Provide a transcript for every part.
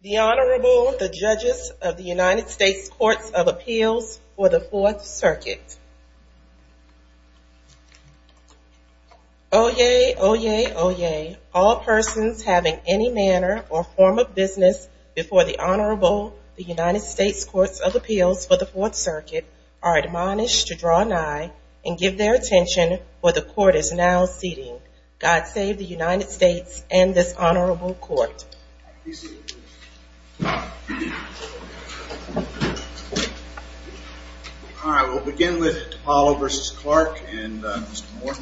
The Honorable, the Judges of the United States Courts of Appeals for the Fourth Circuit. Oyez, oyez, oyez, all persons having any manner or form of business before the Honorable, the United States Courts of Appeals for the Fourth Circuit, are admonished to draw nigh and give their attention for the Court is now seating. God save the United States and this Honorable Court. All right, we'll begin with DePaola v. Clarke and Mr. Moore.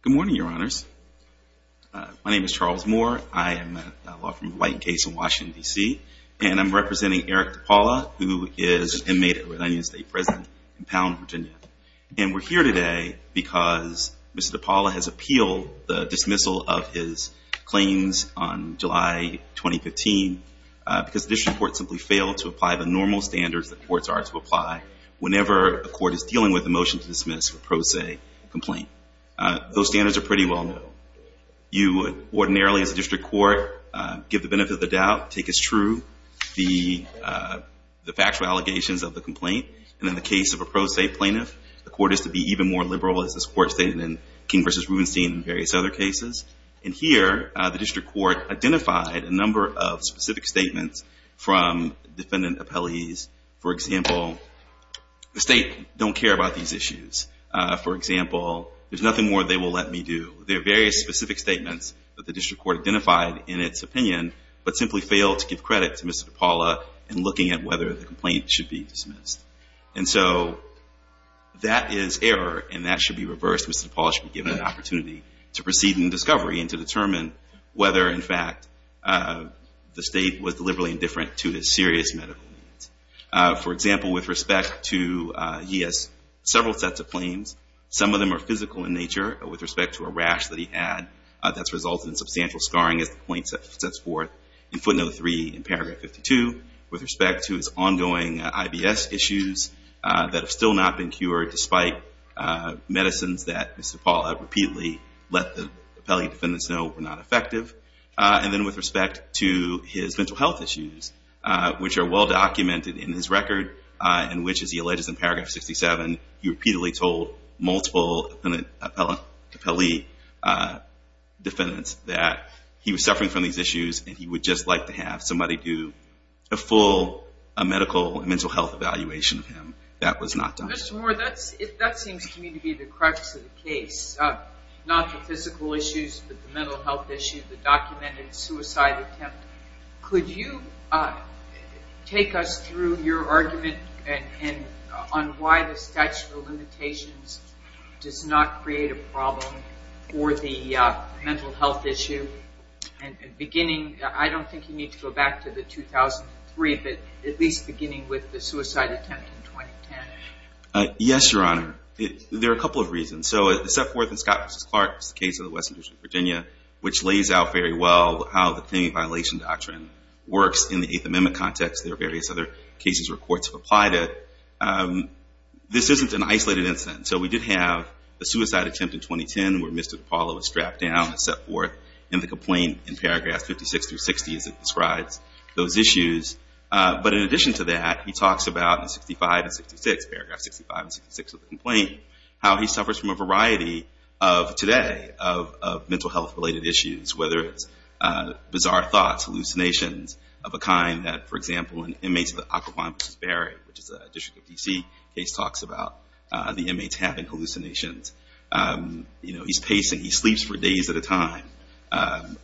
Good morning, Your Honors. My name is Charles Moore. I am a law firm with a white case in Washington, D.C. and I'm representing Eric DePaola, who is an inmate at Rhode Island State Prison in Pound, Virginia. And we're here today because Mr. DePaola has appealed the dismissal of his claims on July 2015 because the district court simply failed to apply the normal standards the courts are to apply whenever a court is dealing with a motion to dismiss a pro se complaint. Those standards are pretty well known. You ordinarily, as a district court, give the benefit of the doubt, take as true the factual allegations of the complaint. And in the case of a pro se plaintiff, the court is to be even more liberal, as this court stated in King v. Rubenstein and various other cases. And here, the district court identified a number of specific statements from defendant appellees. For example, the state don't care about these issues. For example, there's nothing more they will let me do. There are various specific statements that the district court identified in its opinion, but simply failed to give credit to Mr. DePaola in looking at whether the complaint should be dismissed. And so that is error, and that should be reversed. Mr. DePaola should be given an opportunity to proceed in discovery and to determine whether, in fact, the state was deliberately indifferent to his serious medical needs. For example, with respect to, he has several sets of claims. Some of them are physical in nature. With respect to a rash that he had that's resulted in substantial scarring, as the plaintiff sets forth in footnote three in paragraph 52. With respect to his ongoing IBS issues that have still not been cured, despite medicines that Mr. DePaola repeatedly let the appellee defendants know were not effective. And then with respect to his mental health issues, which are well documented in his record, and which, as he alleges in paragraph 67, he repeatedly told multiple appellee defendants that he was suffering from these issues and he would just like to have somebody do a full medical, mental health evaluation of him. That was not done. Mr. Moore, that seems to me to be the crux of the case. Not the physical issues, but the mental health issues, the documented suicide attempt. Could you take us through your argument on why the statute of limitations does not create a problem for the mental health issue? Beginning, I don't think you need to go back to the 2003, but at least beginning with the suicide attempt in 2010. Yes, Your Honor. There are a couple of reasons. And so it's set forth in Scott v. Clark's case of the Western District of Virginia, which lays out very well how the claimant violation doctrine works in the Eighth Amendment context. There are various other cases where courts have applied it. This isn't an isolated incident. So we did have a suicide attempt in 2010 where Mr. DePaola was strapped down and set forth in the complaint in paragraphs 56 through 60 as it describes those issues. But in addition to that, he talks about in 65 and 66, paragraph 65 and 66 of the complaint, how he suffers from a variety of, today, of mental health-related issues, whether it's bizarre thoughts, hallucinations of a kind that, for example, in inmates of the Occoquan v. Berry, which is a District of D.C. case, talks about the inmates having hallucinations. He's pacing. He sleeps for days at a time.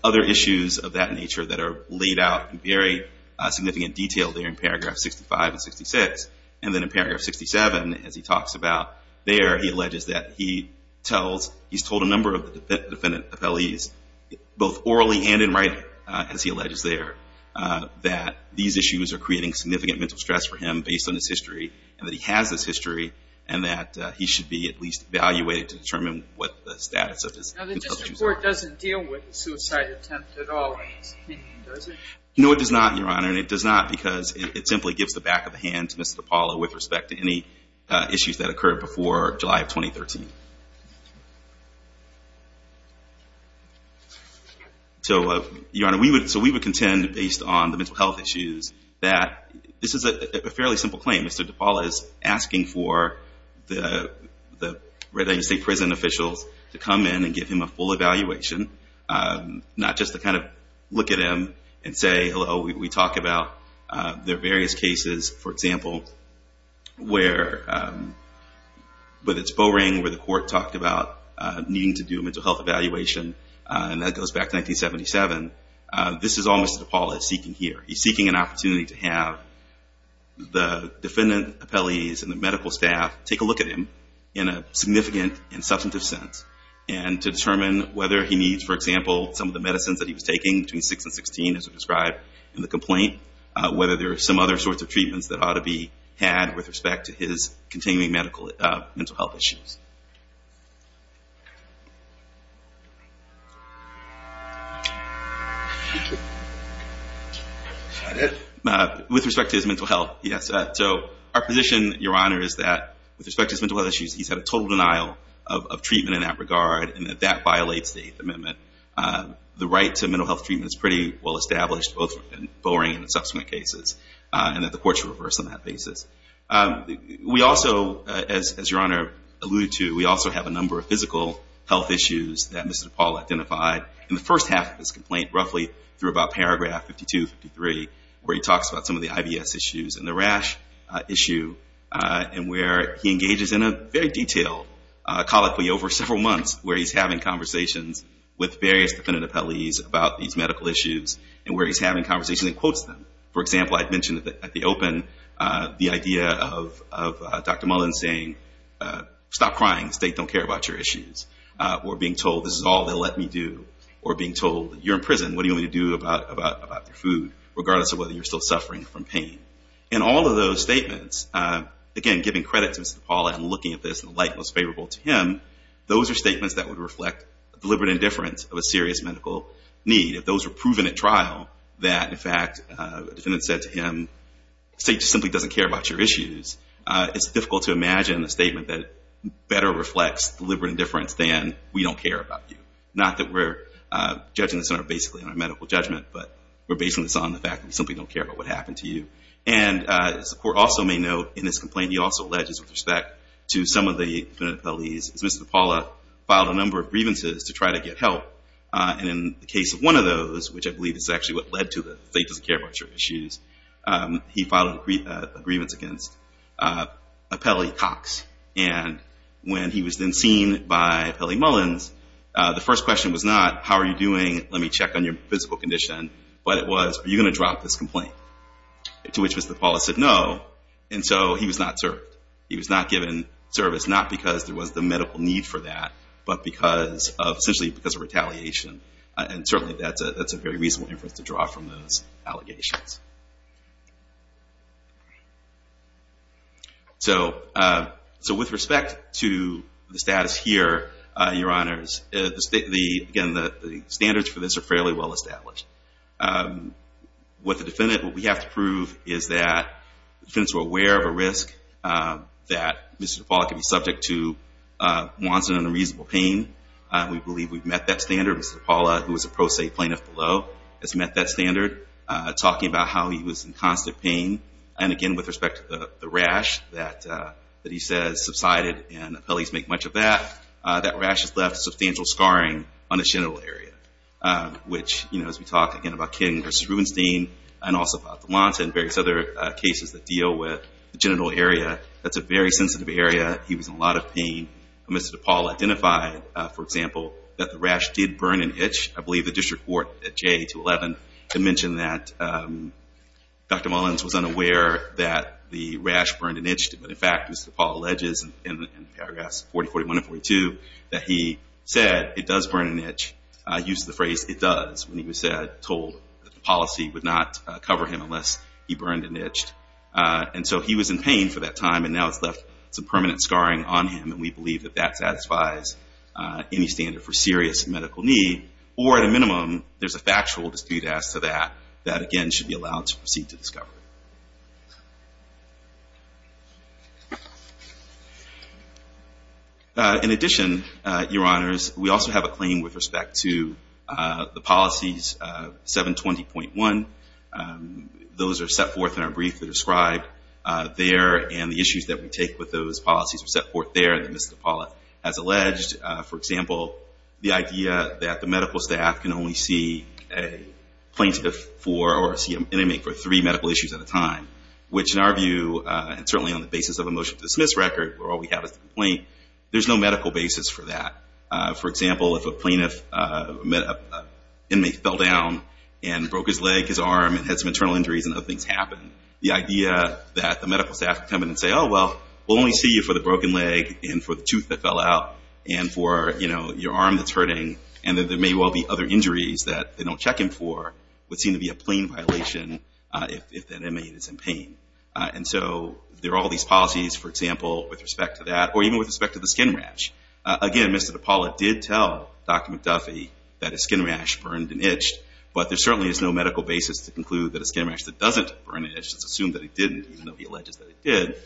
Other issues of that nature that are laid out in very significant detail there in paragraph 65 and 66. And then in paragraph 67, as he talks about there, he alleges that he tells, he's told a number of the defendant appellees, both orally and in writing, as he alleges there, that these issues are creating significant mental stress for him based on his history, and that he has this history, and that he should be at least evaluated to determine what the status of his concussions are. Now, the district court doesn't deal with the suicide attempt at all in his opinion, does it? No, it does not, Your Honor. And it does not because it simply gives the back of the hand to Mr. DePaula with respect to any issues that occurred before July of 2013. So, Your Honor, we would contend, based on the mental health issues, that this is a fairly simple claim. Mr. DePaula is asking for the Red Island State Prison officials to come in and give him a full evaluation, not just to kind of look at him and say, hello, we talk about there are various cases, for example, where, whether it's Bowring, where the court talked about needing to do a mental health evaluation, and that goes back to 1977, this is all Mr. DePaula is seeking here. He's seeking an opportunity to have the defendant appellees and the medical staff take a look at him in a significant and substantive sense and to determine whether he needs, for example, some of the medicines that he was taking between 6 and 16, as was described in the complaint, whether there are some other sorts of treatments that ought to be had with respect to his continuing mental health issues. Is that it? With respect to his mental health, yes. So our position, Your Honor, is that with respect to his mental health issues, he's had a total denial of treatment in that regard, and that that violates the Eighth Amendment. The right to mental health treatment is pretty well established, both in Bowring and in subsequent cases, and that the court should reverse on that basis. We also, as Your Honor alluded to, we also have a number of physical health issues that Mr. DePaula identified. In the first half of his complaint, roughly through about paragraph 52, 53, where he talks about some of the IBS issues and the rash issue, and where he engages in a very detailed, colloquially over several months, where he's having conversations with various defendant appellees about these medical issues and where he's having conversations and quotes them. For example, I mentioned at the open the idea of Dr. Mullen saying, stop crying, the state don't care about your issues, or being told this is all they'll let me do, or being told you're in prison, what do you want me to do about your food, regardless of whether you're still suffering from pain. And all of those statements, again, giving credit to Mr. DePaula and looking at this in the light most favorable to him, those are statements that would reflect deliberate indifference of a serious medical need. If those were proven at trial, that, in fact, a defendant said to him, the state simply doesn't care about your issues, it's difficult to imagine a statement that better reflects deliberate indifference than we don't care about you. Not that we're judging this in our medical judgment, but we're basing this on the fact that we simply don't care about what happened to you. And as the court also may note in this complaint, he also alleges with respect to some of the defendant appellees, is Mr. DePaula filed a number of grievances to try to get help. And in the case of one of those, which I believe is actually what led to the state doesn't care about your issues, he filed a grievance against Appellee Cox. And when he was then seen by Appellee Mullins, the first question was not, how are you doing, let me check on your physical condition, but it was, are you going to drop this complaint? To which Mr. DePaula said no, and so he was not served. He was not given service, not because there was the medical need for that, but essentially because of retaliation. And certainly that's a very reasonable inference to draw from those allegations. So with respect to the status here, Your Honors, the standards for this are fairly well established. What the defendant, what we have to prove is that the defendants were aware of a risk that Mr. DePaula could be subject to Wonson and a reasonable pain. We believe we've met that standard. Mr. DePaula, who was a pro se plaintiff below, has met that standard. Talking about how he was in constant pain. And again, with respect to the rash that he says subsided, and appellees make much of that, that rash has left substantial scarring on the genital area. Which, you know, as we talk again about King v. Rubenstein, and also about the Wonson and various other cases that deal with the genital area, that's a very sensitive area. He was in a lot of pain. Mr. DePaula identified, for example, that the rash did burn and itch. I believe the district court, at J to 11, had mentioned that Dr. Mullins was unaware that the rash burned and itched. But in fact, Mr. DePaula alleges in paragraphs 40, 41, and 42, that he said it does burn and itch. He used the phrase, it does, when he was told that the policy would not cover him unless he burned and itched. And so he was in pain for that time, and now it's left some permanent scarring on him. And we believe that that satisfies any standard for serious medical need. Or at a minimum, there's a factual dispute as to that, that again should be allowed to proceed to discovery. In addition, Your Honors, we also have a claim with respect to the policies 720.1. Those are set forth in our brief that are described there, and the issues that we take with those policies are set forth there, as Mr. DePaula has alleged. For example, the idea that the medical staff can only see a plaintiff or see an inmate for three medical issues at a time, which in our view, and certainly on the basis of a motion to dismiss record, where all we have is the complaint, there's no medical basis for that. For example, if an inmate fell down and broke his leg, his arm, and had some internal injuries and other things happened, the idea that the medical staff could come in and say, oh, well, we'll only see you for the broken leg and for the tooth that fell out and for, you know, your arm that's hurting, and that there may well be other injuries that they don't check him for, would seem to be a plain violation if that inmate is in pain. And so there are all these policies, for example, with respect to that, or even with respect to the skin rash. Again, Mr. DePaula did tell Dr. McDuffie that his skin rash burned and itched, but there certainly is no medical basis to conclude that a skin rash that doesn't burn and itches, it's assumed that it didn't, even though he alleges that it did,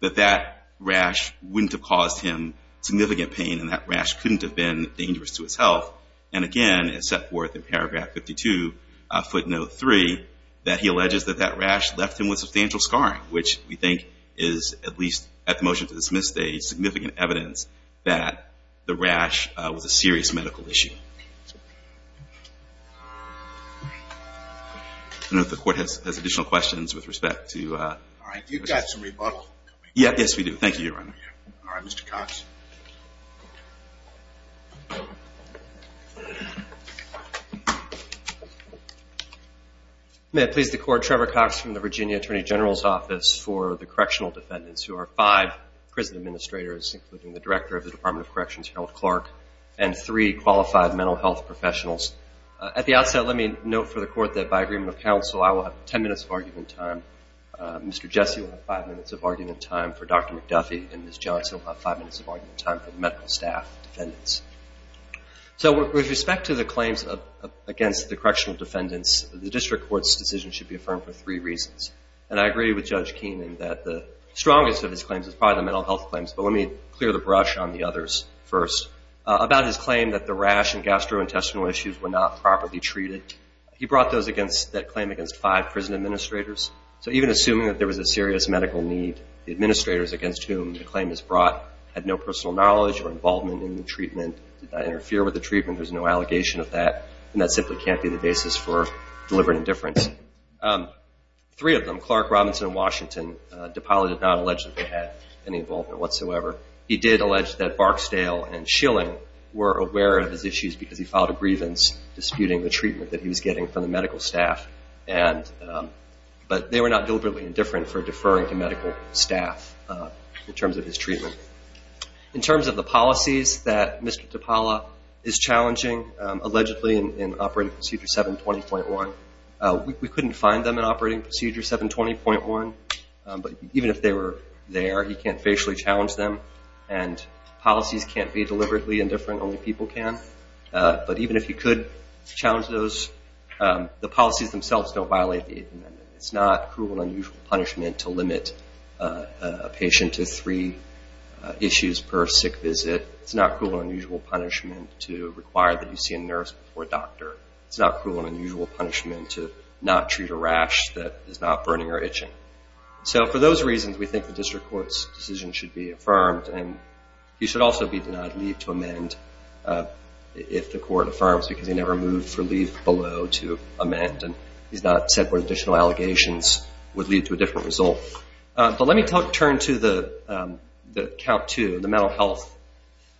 that that rash wouldn't have caused him significant pain and that rash couldn't have been dangerous to his health. And again, it's set forth in paragraph 52, footnote 3, that he alleges that that rash left him with substantial scarring, which we think is, at least at the motion to dismiss, a significant evidence that the rash was a serious medical issue. I don't know if the court has additional questions with respect to... All right, you've got some rebuttal. Yes, we do. Thank you, Your Honor. All right, Mr. Cox. May it please the Court, Trevor Cox from the Virginia Attorney General's Office for the Correctional Defendants, who are five prison administrators, including the Director of the Department of Corrections, Harold Clark, and three qualified mental health professionals. At the outset, let me note for the Court that by agreement of counsel, I will have ten minutes of argument time. Mr. Jesse will have five minutes of argument time for Dr. McDuffie, and Ms. Johnson will have five minutes of argument time for the medical staff defendants. So with respect to the claims against the correctional defendants, the district court's decision should be affirmed for three reasons. And I agree with Judge Keenan that the strongest of his claims is probably the mental health claims, but let me clear the brush on the others first. About his claim that the rash and gastrointestinal issues were not properly treated, he brought that claim against five prison administrators. So even assuming that there was a serious medical need, the administrators against whom the claim is brought had no personal knowledge or involvement in the treatment, did not interfere with the treatment, there's no allegation of that, and that simply can't be the basis for deliberate indifference. Three of them, Clark, Robinson, and Washington, DiPaola did not allege that they had any involvement whatsoever. He did allege that Barksdale and Schilling were aware of his issues because he filed a grievance disputing the treatment that he was getting from the medical staff, but they were not deliberately indifferent for deferring to medical staff in terms of his treatment. In terms of the policies that Mr. DiPaola is challenging, allegedly in Operating Procedure 720.1, we couldn't find them in Operating Procedure 720.1. But even if they were there, he can't facially challenge them, and policies can't be deliberately indifferent, only people can. But even if he could challenge those, the policies themselves don't violate the Eighth Amendment. It's not cruel and unusual punishment to limit a patient to three issues per sick visit. It's not cruel and unusual punishment to require that you see a nurse or a doctor. It's not cruel and unusual punishment to not treat a rash that is not burning or itching. So for those reasons, we think the district court's decision should be affirmed, and he should also be denied leave to amend if the court affirms, because he never moved for leave below to amend, and he's not said where additional allegations would lead to a different result. But let me turn to the count two, the mental health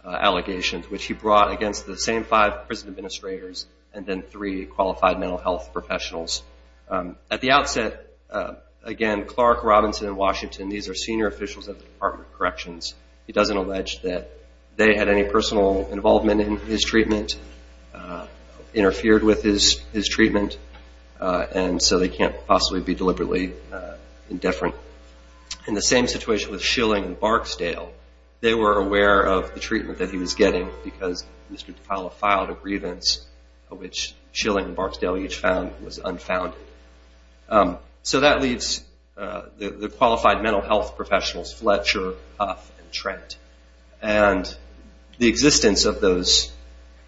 allegations, which he brought against the same five prison administrators and then three qualified mental health professionals. At the outset, again, Clark, Robinson, and Washington, these are senior officials at the Department of Corrections. He doesn't allege that they had any personal involvement in his treatment, interfered with his treatment, and so they can't possibly be deliberately indifferent. In the same situation with Schilling and Barksdale, they were aware of the treatment that he was getting because Mr. DeFilo filed a grievance of which Schilling and Barksdale each was unfounded. So that leaves the qualified mental health professionals, Fletcher, Huff, and Trent, and the existence of those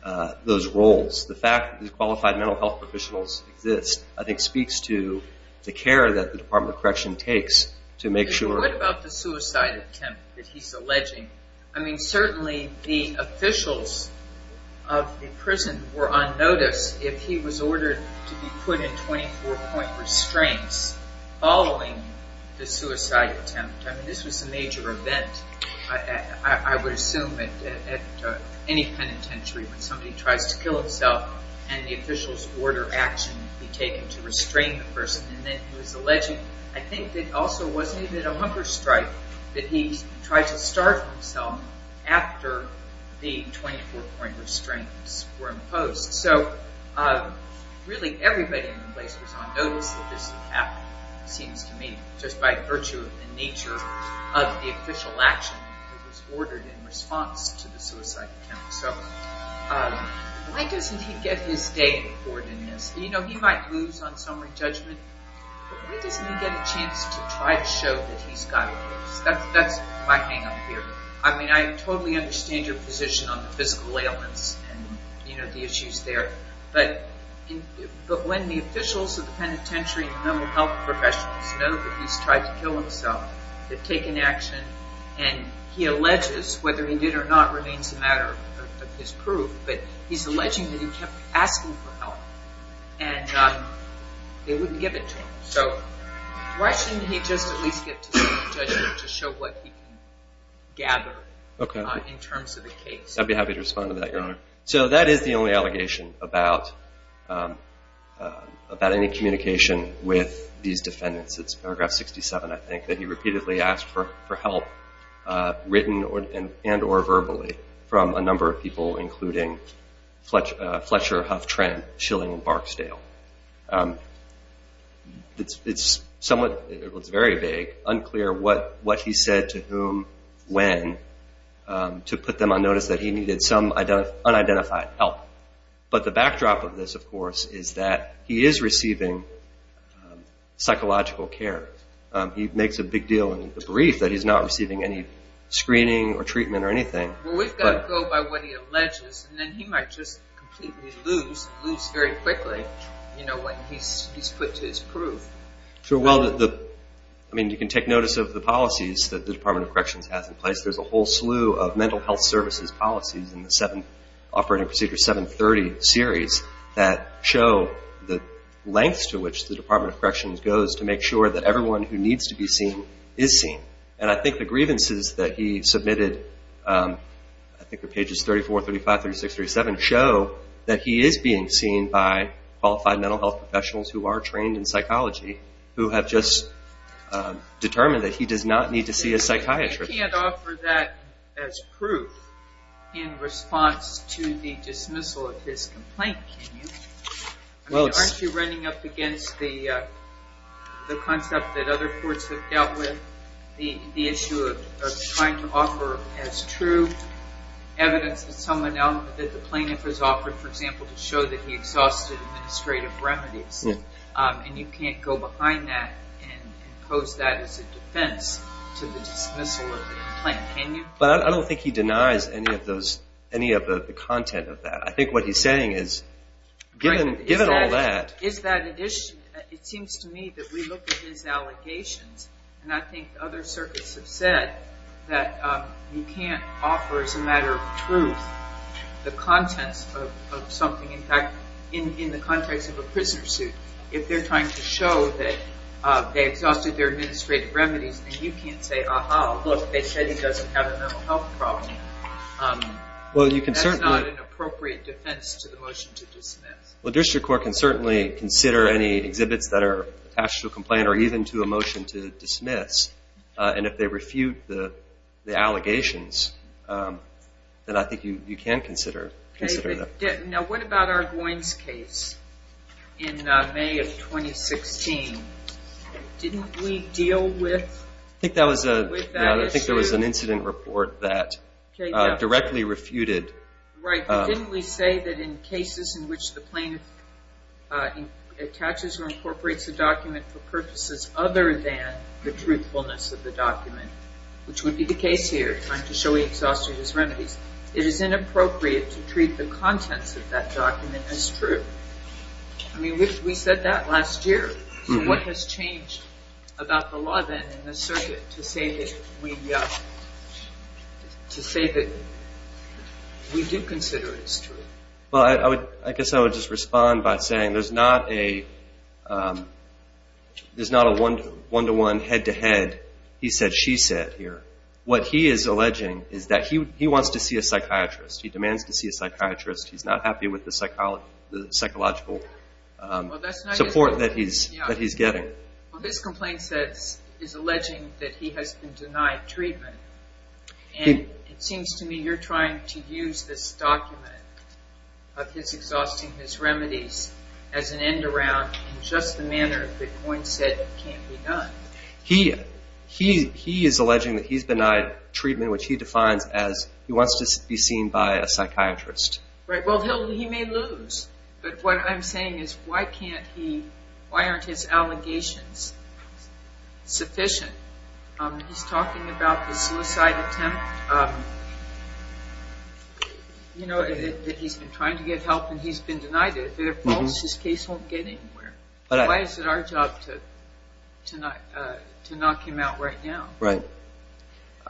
roles, the fact that these qualified mental health professionals exist, I think speaks to the care that the Department of Correction takes to make sure. What about the suicide attempt that he's alleging? I mean, certainly the officials of the prison were on notice if he was ordered to be put in 24-point restraints following the suicide attempt. I mean, this was a major event, I would assume, at any penitentiary when somebody tries to kill himself and the official's order of action would be taken to restrain the person. And then he was alleging, I think, that also wasn't even a hunger strike, that he tried to starve himself after the 24-point restraints were imposed. So really everybody in the place was on notice that this would happen, it seems to me, just by virtue of the nature of the official action that was ordered in response to the suicide attempt. So why doesn't he get his day on board in this? You know, he might lose on summary judgment, but why doesn't he get a chance to try to show that he's got a voice? That's my hang-up here. I mean, I totally understand your position on the physical ailments and the issues there, but when the officials of the penitentiary and the mental health professionals know that he's tried to kill himself, they've taken action, and he alleges whether he did or not remains a matter of his proof, but he's alleging that he kept asking for help, and they wouldn't give it to him. So why shouldn't he just at least get to summary judgment to show what he can gather in terms of the case? I'd be happy to respond to that, Your Honor. So that is the only allegation about any communication with these defendants. It's paragraph 67, I think, that he repeatedly asked for help, written and or verbally, from a number of people, including Fletcher Huff Trent, Shilling, and Barksdale. It's somewhat, it's very vague, unclear what he said to whom, when, to put them on notice that he needed some unidentified help. But the backdrop of this, of course, is that he is receiving psychological care. He makes a big deal in the brief that he's not receiving any screening or treatment or anything. Well, we've got to go by what he alleges, and then he might just completely lose very quickly what he's put to his proof. Sure, well, I mean, you can take notice of the policies that the Department of Corrections has in place. There's a whole slew of mental health services policies in the 7th Operating Procedure, 730 series, that show the lengths to which the Department of Corrections goes to make sure that everyone who needs to be seen is seen. And I think the grievances that he submitted, I think they're pages 34, 35, 36, 37, show that he is being seen by qualified mental health professionals who are trained in psychology, who have just determined that he does not need to see a psychiatrist. You can't offer that as proof in response to the dismissal of his complaint, can you? Aren't you running up against the concept that other courts have dealt with, the issue of trying to offer as true evidence that the plaintiff has offered, for example, to show that he exhausted administrative remedies? And you can't go behind that and pose that as a defense to the dismissal of the complaint, can you? Well, I don't think he denies any of the content of that. I think what he's saying is, given all that... It seems to me that we look at his allegations, and I think other circuits have said that you can't offer as a matter of truth the contents of something, in fact, in the context of a prisoner suit. If they're trying to show that they exhausted their administrative remedies, then you can't say, aha, look, they said he doesn't have a mental health problem. That's not an appropriate defense to the motion to dismiss. Well, district court can certainly consider any exhibits that are attached to a complaint or even to a motion to dismiss, and if they refute the allegations, then I think you can consider them. Now, what about Argoin's case in May of 2016? Didn't we deal with that issue? I think there was an incident report that directly refuted... Right, but didn't we say that in cases in which the plaintiff attaches or incorporates a document for purposes other than the truthfulness of the document, which would be the case here, trying to show he exhausted his remedies, it is inappropriate to treat the contents of that document as true. I mean, we said that last year. So what has changed about the law then in this circuit to say that we do consider it as true? Well, I guess I would just respond by saying there's not a one-to-one, head-to-head, he said, she said here. What he is alleging is that he wants to see a psychiatrist. He demands to see a psychiatrist. He's not happy with the psychological support that he's getting. Well, this complaint says, is alleging that he has been denied treatment, and it seems to me you're trying to use this document of his exhausting his remedies as an end-around in just the manner that Argoin said it can be done. He is alleging that he's denied treatment, in which he defines as he wants to be seen by a psychiatrist. Right. Well, he may lose. But what I'm saying is why can't he, why aren't his allegations sufficient? He's talking about the suicide attempt, you know, that he's been trying to get help and he's been denied it. If they're false, his case won't get anywhere. Why is it our job to knock him out right now? Right.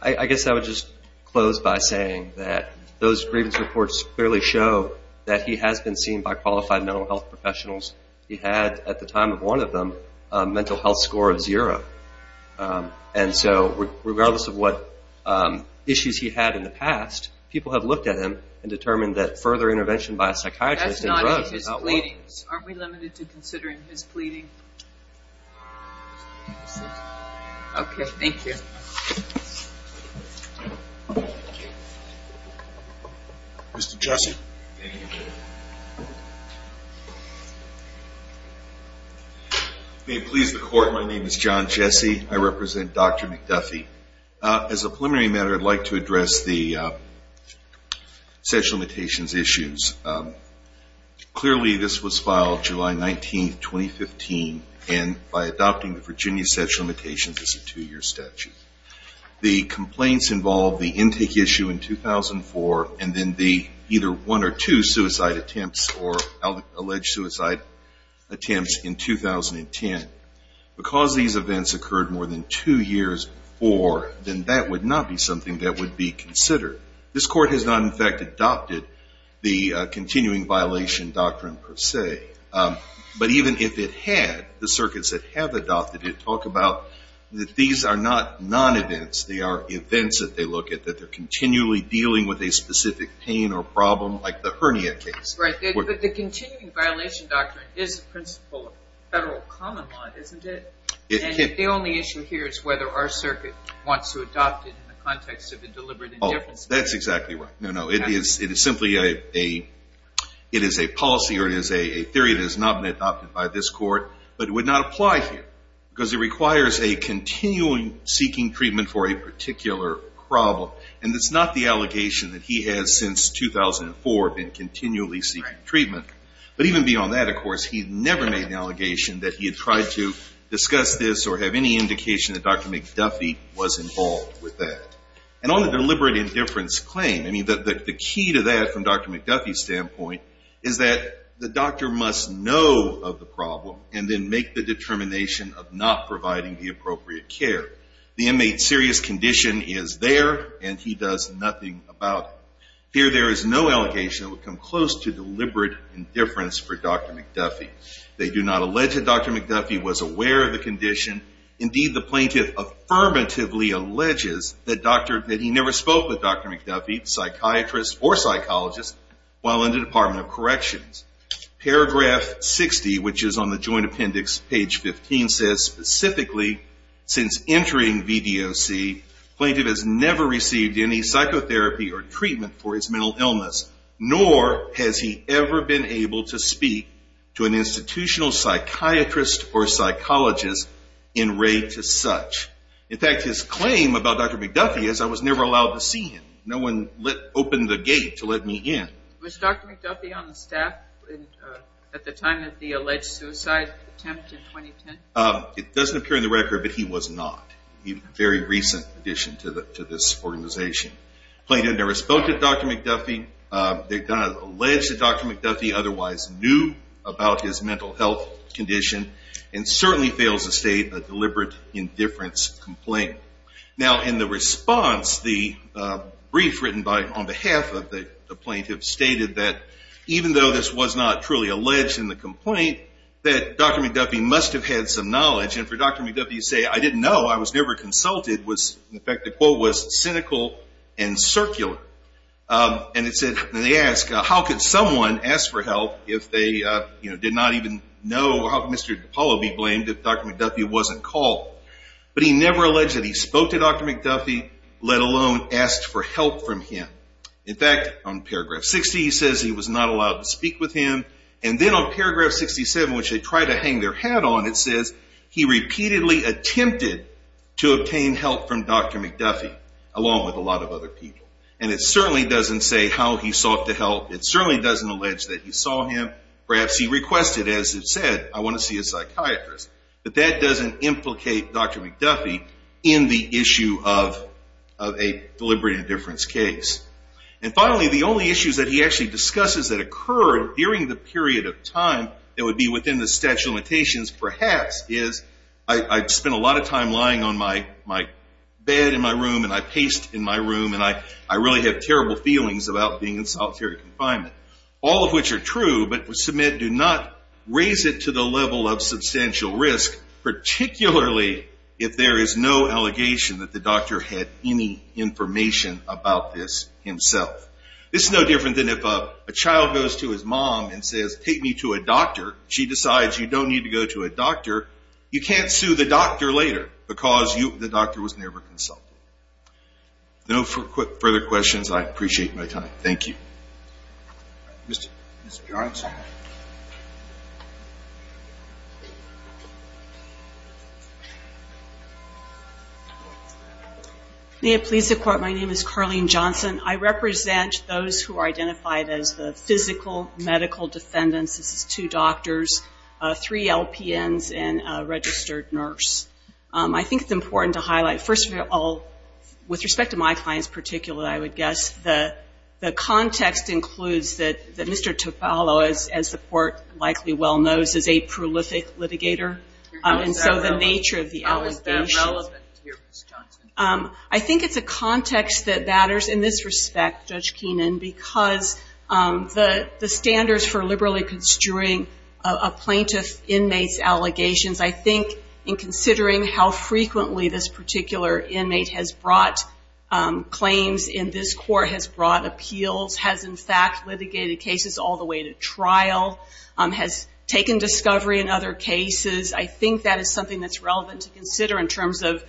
I guess I would just close by saying that those grievance reports clearly show that he has been seen by qualified mental health professionals. He had, at the time of one of them, a mental health score of zero. And so regardless of what issues he had in the past, people have looked at him and determined that further intervention by a psychiatrist That's not in his pleadings. Aren't we limited to considering his pleading? Okay. Thank you. Mr. Jessie. May it please the Court, my name is John Jessie. I represent Dr. McDuffie. As a preliminary matter, I'd like to address the sexual limitations issues. Clearly this was filed July 19, 2015, and by adopting the Virginia sexual limitations as a two-year statute. The complaints involve the intake issue in 2004 and then the either one or two suicide attempts or alleged suicide attempts in 2010. Because these events occurred more than two years before, then that would not be something that would be considered. This Court has not, in fact, adopted the continuing violation doctrine per se. But even if it had, the circuits that have adopted it talk about that these are not non-events. They are events that they look at, that they're continually dealing with a specific pain or problem like the hernia case. But the continuing violation doctrine is the principle of federal common law, isn't it? The only issue here is whether our circuit wants to adopt it in the context of a deliberate indifference. That's exactly right. No, no. It is simply a policy or it is a theory that has not been adopted by this Court, but it would not apply here because it requires a continuing seeking treatment for a particular problem. And it's not the allegation that he has since 2004 been continually seeking treatment. But even beyond that, of course, he never made the allegation that he had tried to discuss this or have any indication that Dr. McDuffie was involved with that. And on the deliberate indifference claim, I mean, the key to that from Dr. McDuffie's standpoint is that the doctor must know of the problem and then make the determination of not providing the appropriate care. The inmate's serious condition is there and he does nothing about it. Here there is no allegation that would come close to deliberate indifference for Dr. McDuffie. They do not allege that Dr. McDuffie was aware of the condition. Indeed, the plaintiff affirmatively alleges that he never spoke with Dr. McDuffie, the psychiatrist or psychologist, while in the Department of Corrections. Paragraph 60, which is on the Joint Appendix, page 15, says, Specifically, since entering VDOC, the plaintiff has never received any psychotherapy or treatment for his mental illness, nor has he ever been able to speak to an institutional psychiatrist or psychologist in rate to such. In fact, his claim about Dr. McDuffie is, I was never allowed to see him. No one opened the gate to let me in. Was Dr. McDuffie on the staff at the time of the alleged suicide attempt in 2010? It doesn't appear in the record, but he was not. A very recent addition to this organization. The plaintiff never spoke to Dr. McDuffie. They don't allege that Dr. McDuffie otherwise knew about his mental health condition and certainly fails to state a deliberate indifference complaint. Now, in the response, the brief written on behalf of the plaintiff stated that even though this was not truly alleged in the complaint, that Dr. McDuffie must have had some knowledge. And for Dr. McDuffie to say, I didn't know, I was never consulted, in effect, the quote was cynical and circular. And it said, they asked, how could someone ask for help if they did not even know? How could Mr. DiPaolo be blamed if Dr. McDuffie wasn't called? But he never alleged that he spoke to Dr. McDuffie, let alone asked for help from him. In fact, on paragraph 60 he says he was not allowed to speak with him. And then on paragraph 67, which they try to hang their hat on, it says, he repeatedly attempted to obtain help from Dr. McDuffie, along with a lot of other people. And it certainly doesn't say how he sought the help. It certainly doesn't allege that he saw him. Perhaps he requested, as it said, I want to see a psychiatrist. But that doesn't implicate Dr. McDuffie in the issue of a deliberate indifference case. And finally, the only issues that he actually discusses that occurred during the period of time that would be within the statute of limitations, perhaps, is, I've spent a lot of time lying on my bed in my room, and I paste in my room, and I really have terrible feelings about being in solitary confinement. All of which are true, but submit do not raise it to the level of substantial risk, particularly if there is no allegation that the doctor had any information about this himself. This is no different than if a child goes to his mom and says, take me to a doctor. She decides you don't need to go to a doctor. You can't sue the doctor later because the doctor was never consulted. No further questions. I appreciate my time. Thank you. Mr. Johnson. May it please the Court, my name is Carlene Johnson. I represent those who are identified as the physical medical defendants. This is two doctors, three LPNs, and a registered nurse. I think it's important to highlight, first of all, with respect to my client in particular, I would guess, the context includes that Mr. Tufalo, as the Court likely well knows, is a prolific litigator. And so the nature of the allegation. I think it's a context that matters in this respect, Judge Keenan, because the standards for liberally construing a plaintiff's inmate's allegations, I think in considering how frequently this particular inmate has brought claims in this court, has brought appeals, has in fact litigated cases all the way to trial, has taken discovery in other cases. I think that is something that's relevant to consider in terms of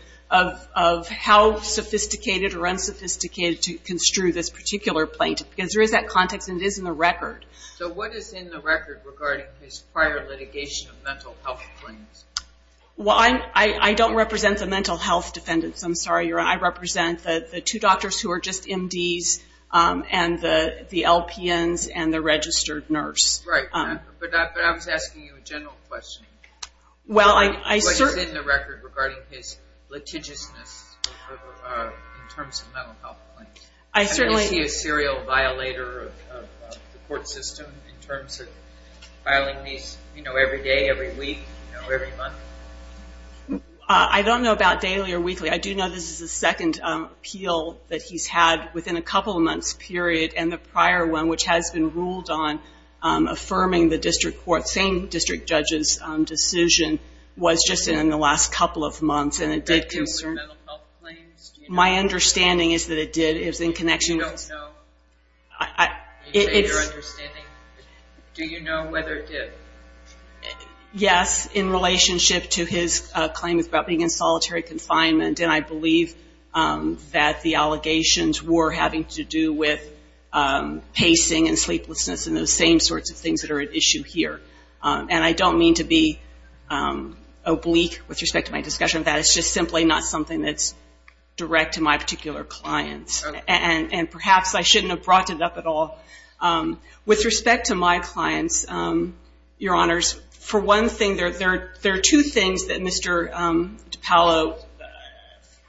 how sophisticated or unsophisticated to construe this particular plaintiff. Because there is that context and it is in the record. So what is in the record regarding his prior litigation of mental health claims? Well, I don't represent the mental health defendants. I'm sorry, Your Honor. I represent the two doctors who are just MDs and the LPNs and the registered nurse. Right. But I was asking you a general question. What is in the record regarding his litigiousness in terms of mental health claims? Is he a serial violator of the court system in terms of filing these every day, every week, every month? I don't know about daily or weekly. I do know this is the second appeal that he's had within a couple of months period, and the prior one, which has been ruled on affirming the district court, same district judge's decision, was just in the last couple of months. And it did concern my understanding is that it did. Do you know whether it did? Yes, in relationship to his claim about being in solitary confinement. And I believe that the allegations were having to do with pacing and sleeplessness and those same sorts of things that are at issue here. And I don't mean to be oblique with respect to my discussion of that. It's just simply not something that's direct to my particular clients. And perhaps I shouldn't have brought it up at all. With respect to my clients, Your Honors, for one thing, there are two things that Mr. DiPaolo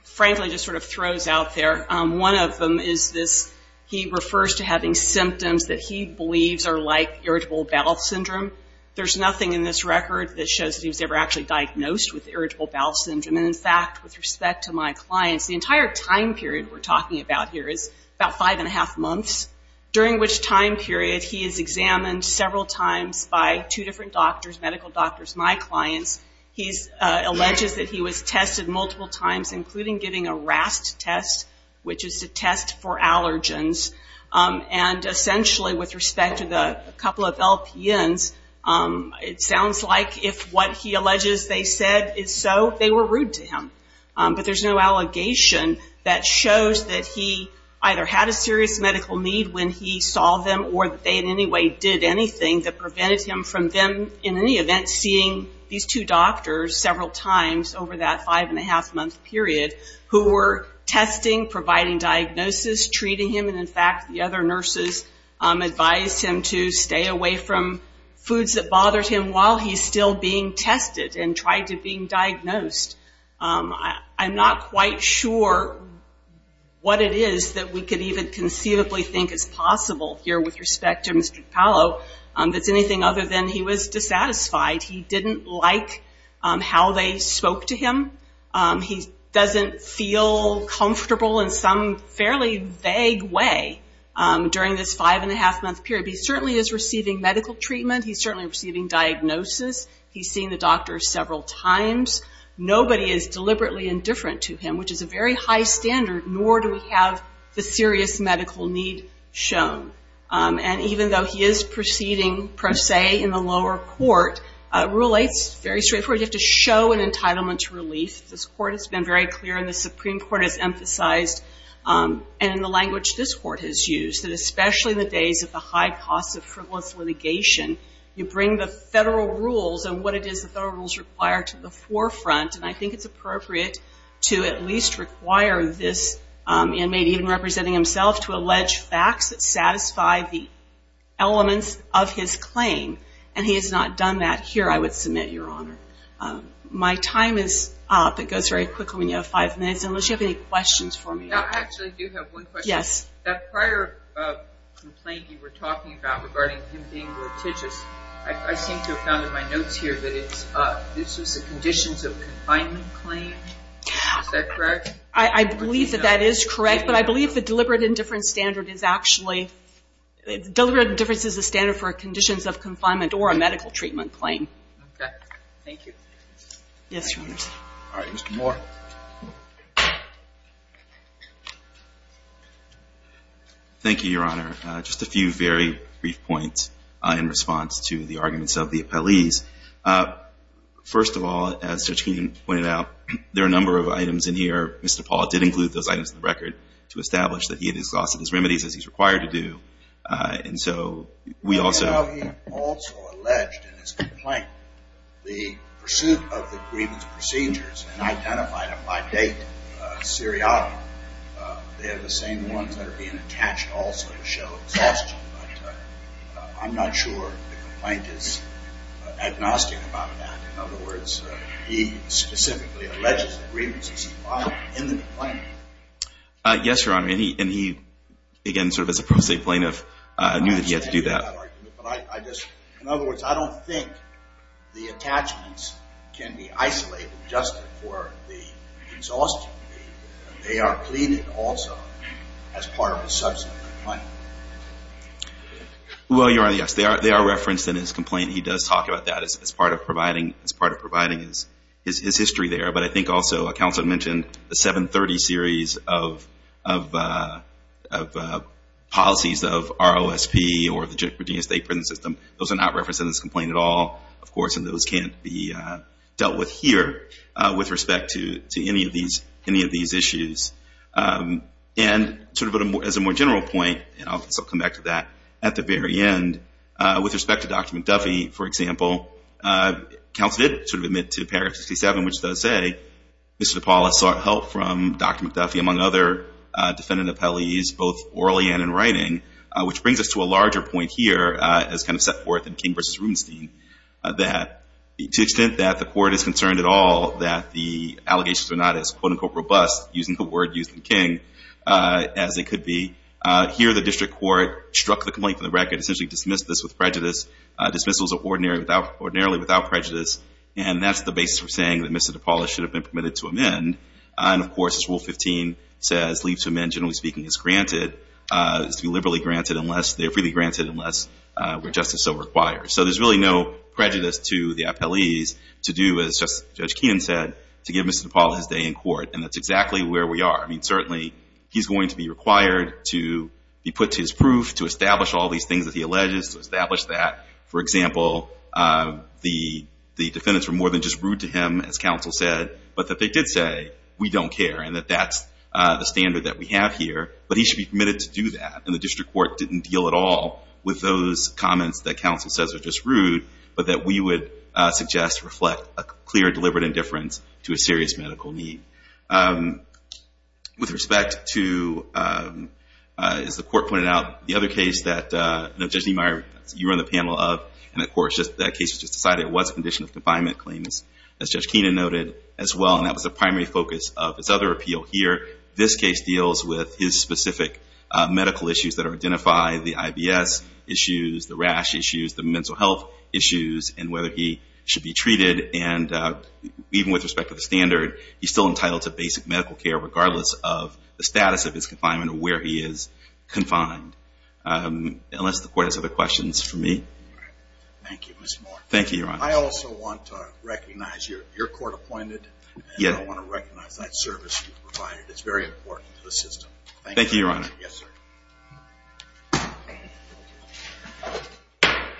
frankly just sort of throws out there. One of them is this, he refers to having symptoms that he believes are like Irritable Bowel Syndrome. There's nothing in this record that shows that he was ever actually diagnosed with Irritable Bowel Syndrome. And, in fact, with respect to my clients, the entire time period we're talking about here is about five and a half months, during which time period he is examined several times by two different doctors, medical doctors, my clients. He alleges that he was tested multiple times, including getting a RAST test, which is a test for allergens. And, essentially, with respect to the couple of LPNs, it sounds like if what he alleges they said is so, they were rude to him. But there's no allegation that shows that he either had a serious medical need when he saw them, or that they in any way did anything that prevented him from then, in any event, seeing these two doctors several times over that five and a half month period, who were testing, providing diagnosis, treating him. And, in fact, the other nurses advised him to stay away from foods that bothered him while he's still being tested and tried to being diagnosed. I'm not quite sure what it is that we could even conceivably think is possible here, with respect to Mr. DiPaolo, that's anything other than he was dissatisfied. He didn't like how they spoke to him. He doesn't feel comfortable in some fairly vague way during this five and a half month period. He certainly is receiving medical treatment. He's certainly receiving diagnosis. He's seen the doctor several times. Nobody is deliberately indifferent to him, which is a very high standard, nor do we have the serious medical need shown. And even though he is proceeding, per se, in the lower court, Rule 8 is very straightforward. You have to show an entitlement to relief. This Court has been very clear, and the Supreme Court has emphasized, and in the language this Court has used, that especially in the days of the high cost of frivolous litigation, you bring the federal rules and what it is the federal rules require to the forefront. And I think it's appropriate to at least require this inmate, even representing himself, to allege facts that satisfy the elements of his claim. And he has not done that here, I would submit, Your Honor. My time is up. It goes very quickly when you have five minutes, unless you have any questions for me. I actually do have one question. Yes. That prior complaint you were talking about regarding him being litigious, I seem to have found in my notes here that this was a conditions of confinement claim. Is that correct? I believe that that is correct, but I believe the deliberate indifference standard is actually, deliberate indifference is the standard for a conditions of confinement or a medical treatment claim. Okay. Thank you. Yes, Your Honor. All right. Mr. Moore. Thank you, Your Honor. Just a few very brief points in response to the arguments of the appellees. First of all, as Judge Keene pointed out, there are a number of items in here. Mr. Paul did include those items in the record to establish that he had exhausted his remedies as he's required to do, and so we also. He also alleged in his complaint the pursuit of the grievance procedures and identified them by date seriatim. They are the same ones that are being attached also to show exhaustion, but I'm not sure the complaint is agnostic about that. In other words, he specifically alleges the grievances he filed in the complaint. Yes, Your Honor, and he, again, sort of as a pro se plaintiff, knew that he had to do that. In other words, I don't think the attachments can be isolated just for the exhaustion. They are pleaded also as part of a subsequent complaint. Well, Your Honor, yes, they are referenced in his complaint. He does talk about that as part of providing his history there, but I think also counsel mentioned the 730 series of policies of ROSP or the Virginia State Prison System. Those are not referenced in this complaint at all, of course, and those can't be dealt with here with respect to any of these issues. And sort of as a more general point, and I'll come back to that at the very end, with respect to Dr. McDuffie, for example, counsel did sort of admit to paragraph 67, which does say, Mr. DePaola sought help from Dr. McDuffie, among other defendant appellees, both orally and in writing, which brings us to a larger point here as kind of set forth in King v. Rubenstein, that to the extent that the court is concerned at all that the allegations are not as quote-unquote robust, using the word used in King, as they could be, here the district court struck the complaint from the record, essentially dismissed this with prejudice. Dismissals are ordinarily without prejudice, and that's the basis for saying that Mr. DePaola should have been permitted to amend. And, of course, Rule 15 says leave to amend, generally speaking, is granted, is to be liberally granted unless they're freely granted unless we're just as so required. So there's really no prejudice to the appellees to do, as Judge Keenan said, to give Mr. DePaola his day in court, and that's exactly where we are. I mean, certainly he's going to be required to be put to his proof, to establish all these things that he alleges, to establish that, for example, the defendants were more than just rude to him, as counsel said, but that they did say we don't care and that that's the standard that we have here, but he should be permitted to do that, and the district court didn't deal at all with those comments that counsel says are just rude, but that we would suggest reflect a clear deliberate indifference to a serious medical need. With respect to, as the court pointed out, the other case that Judge Niemeyer, you were on the panel of, and, of course, that case was just decided, it was a condition of confinement claims, as Judge Keenan noted as well, and that was the primary focus of his other appeal here. This case deals with his specific medical issues that are identified, the IBS issues, the rash issues, the mental health issues, and whether he should be treated, and even with respect to the standard, he's still entitled to basic medical care, regardless of the status of his confinement or where he is confined, unless the court has other questions for me. Thank you, Mr. Moore. Thank you, Your Honor. I also want to recognize your court appointed, and I want to recognize that service you've provided. It's very important to the system. Thank you, Your Honor. Yes, sir.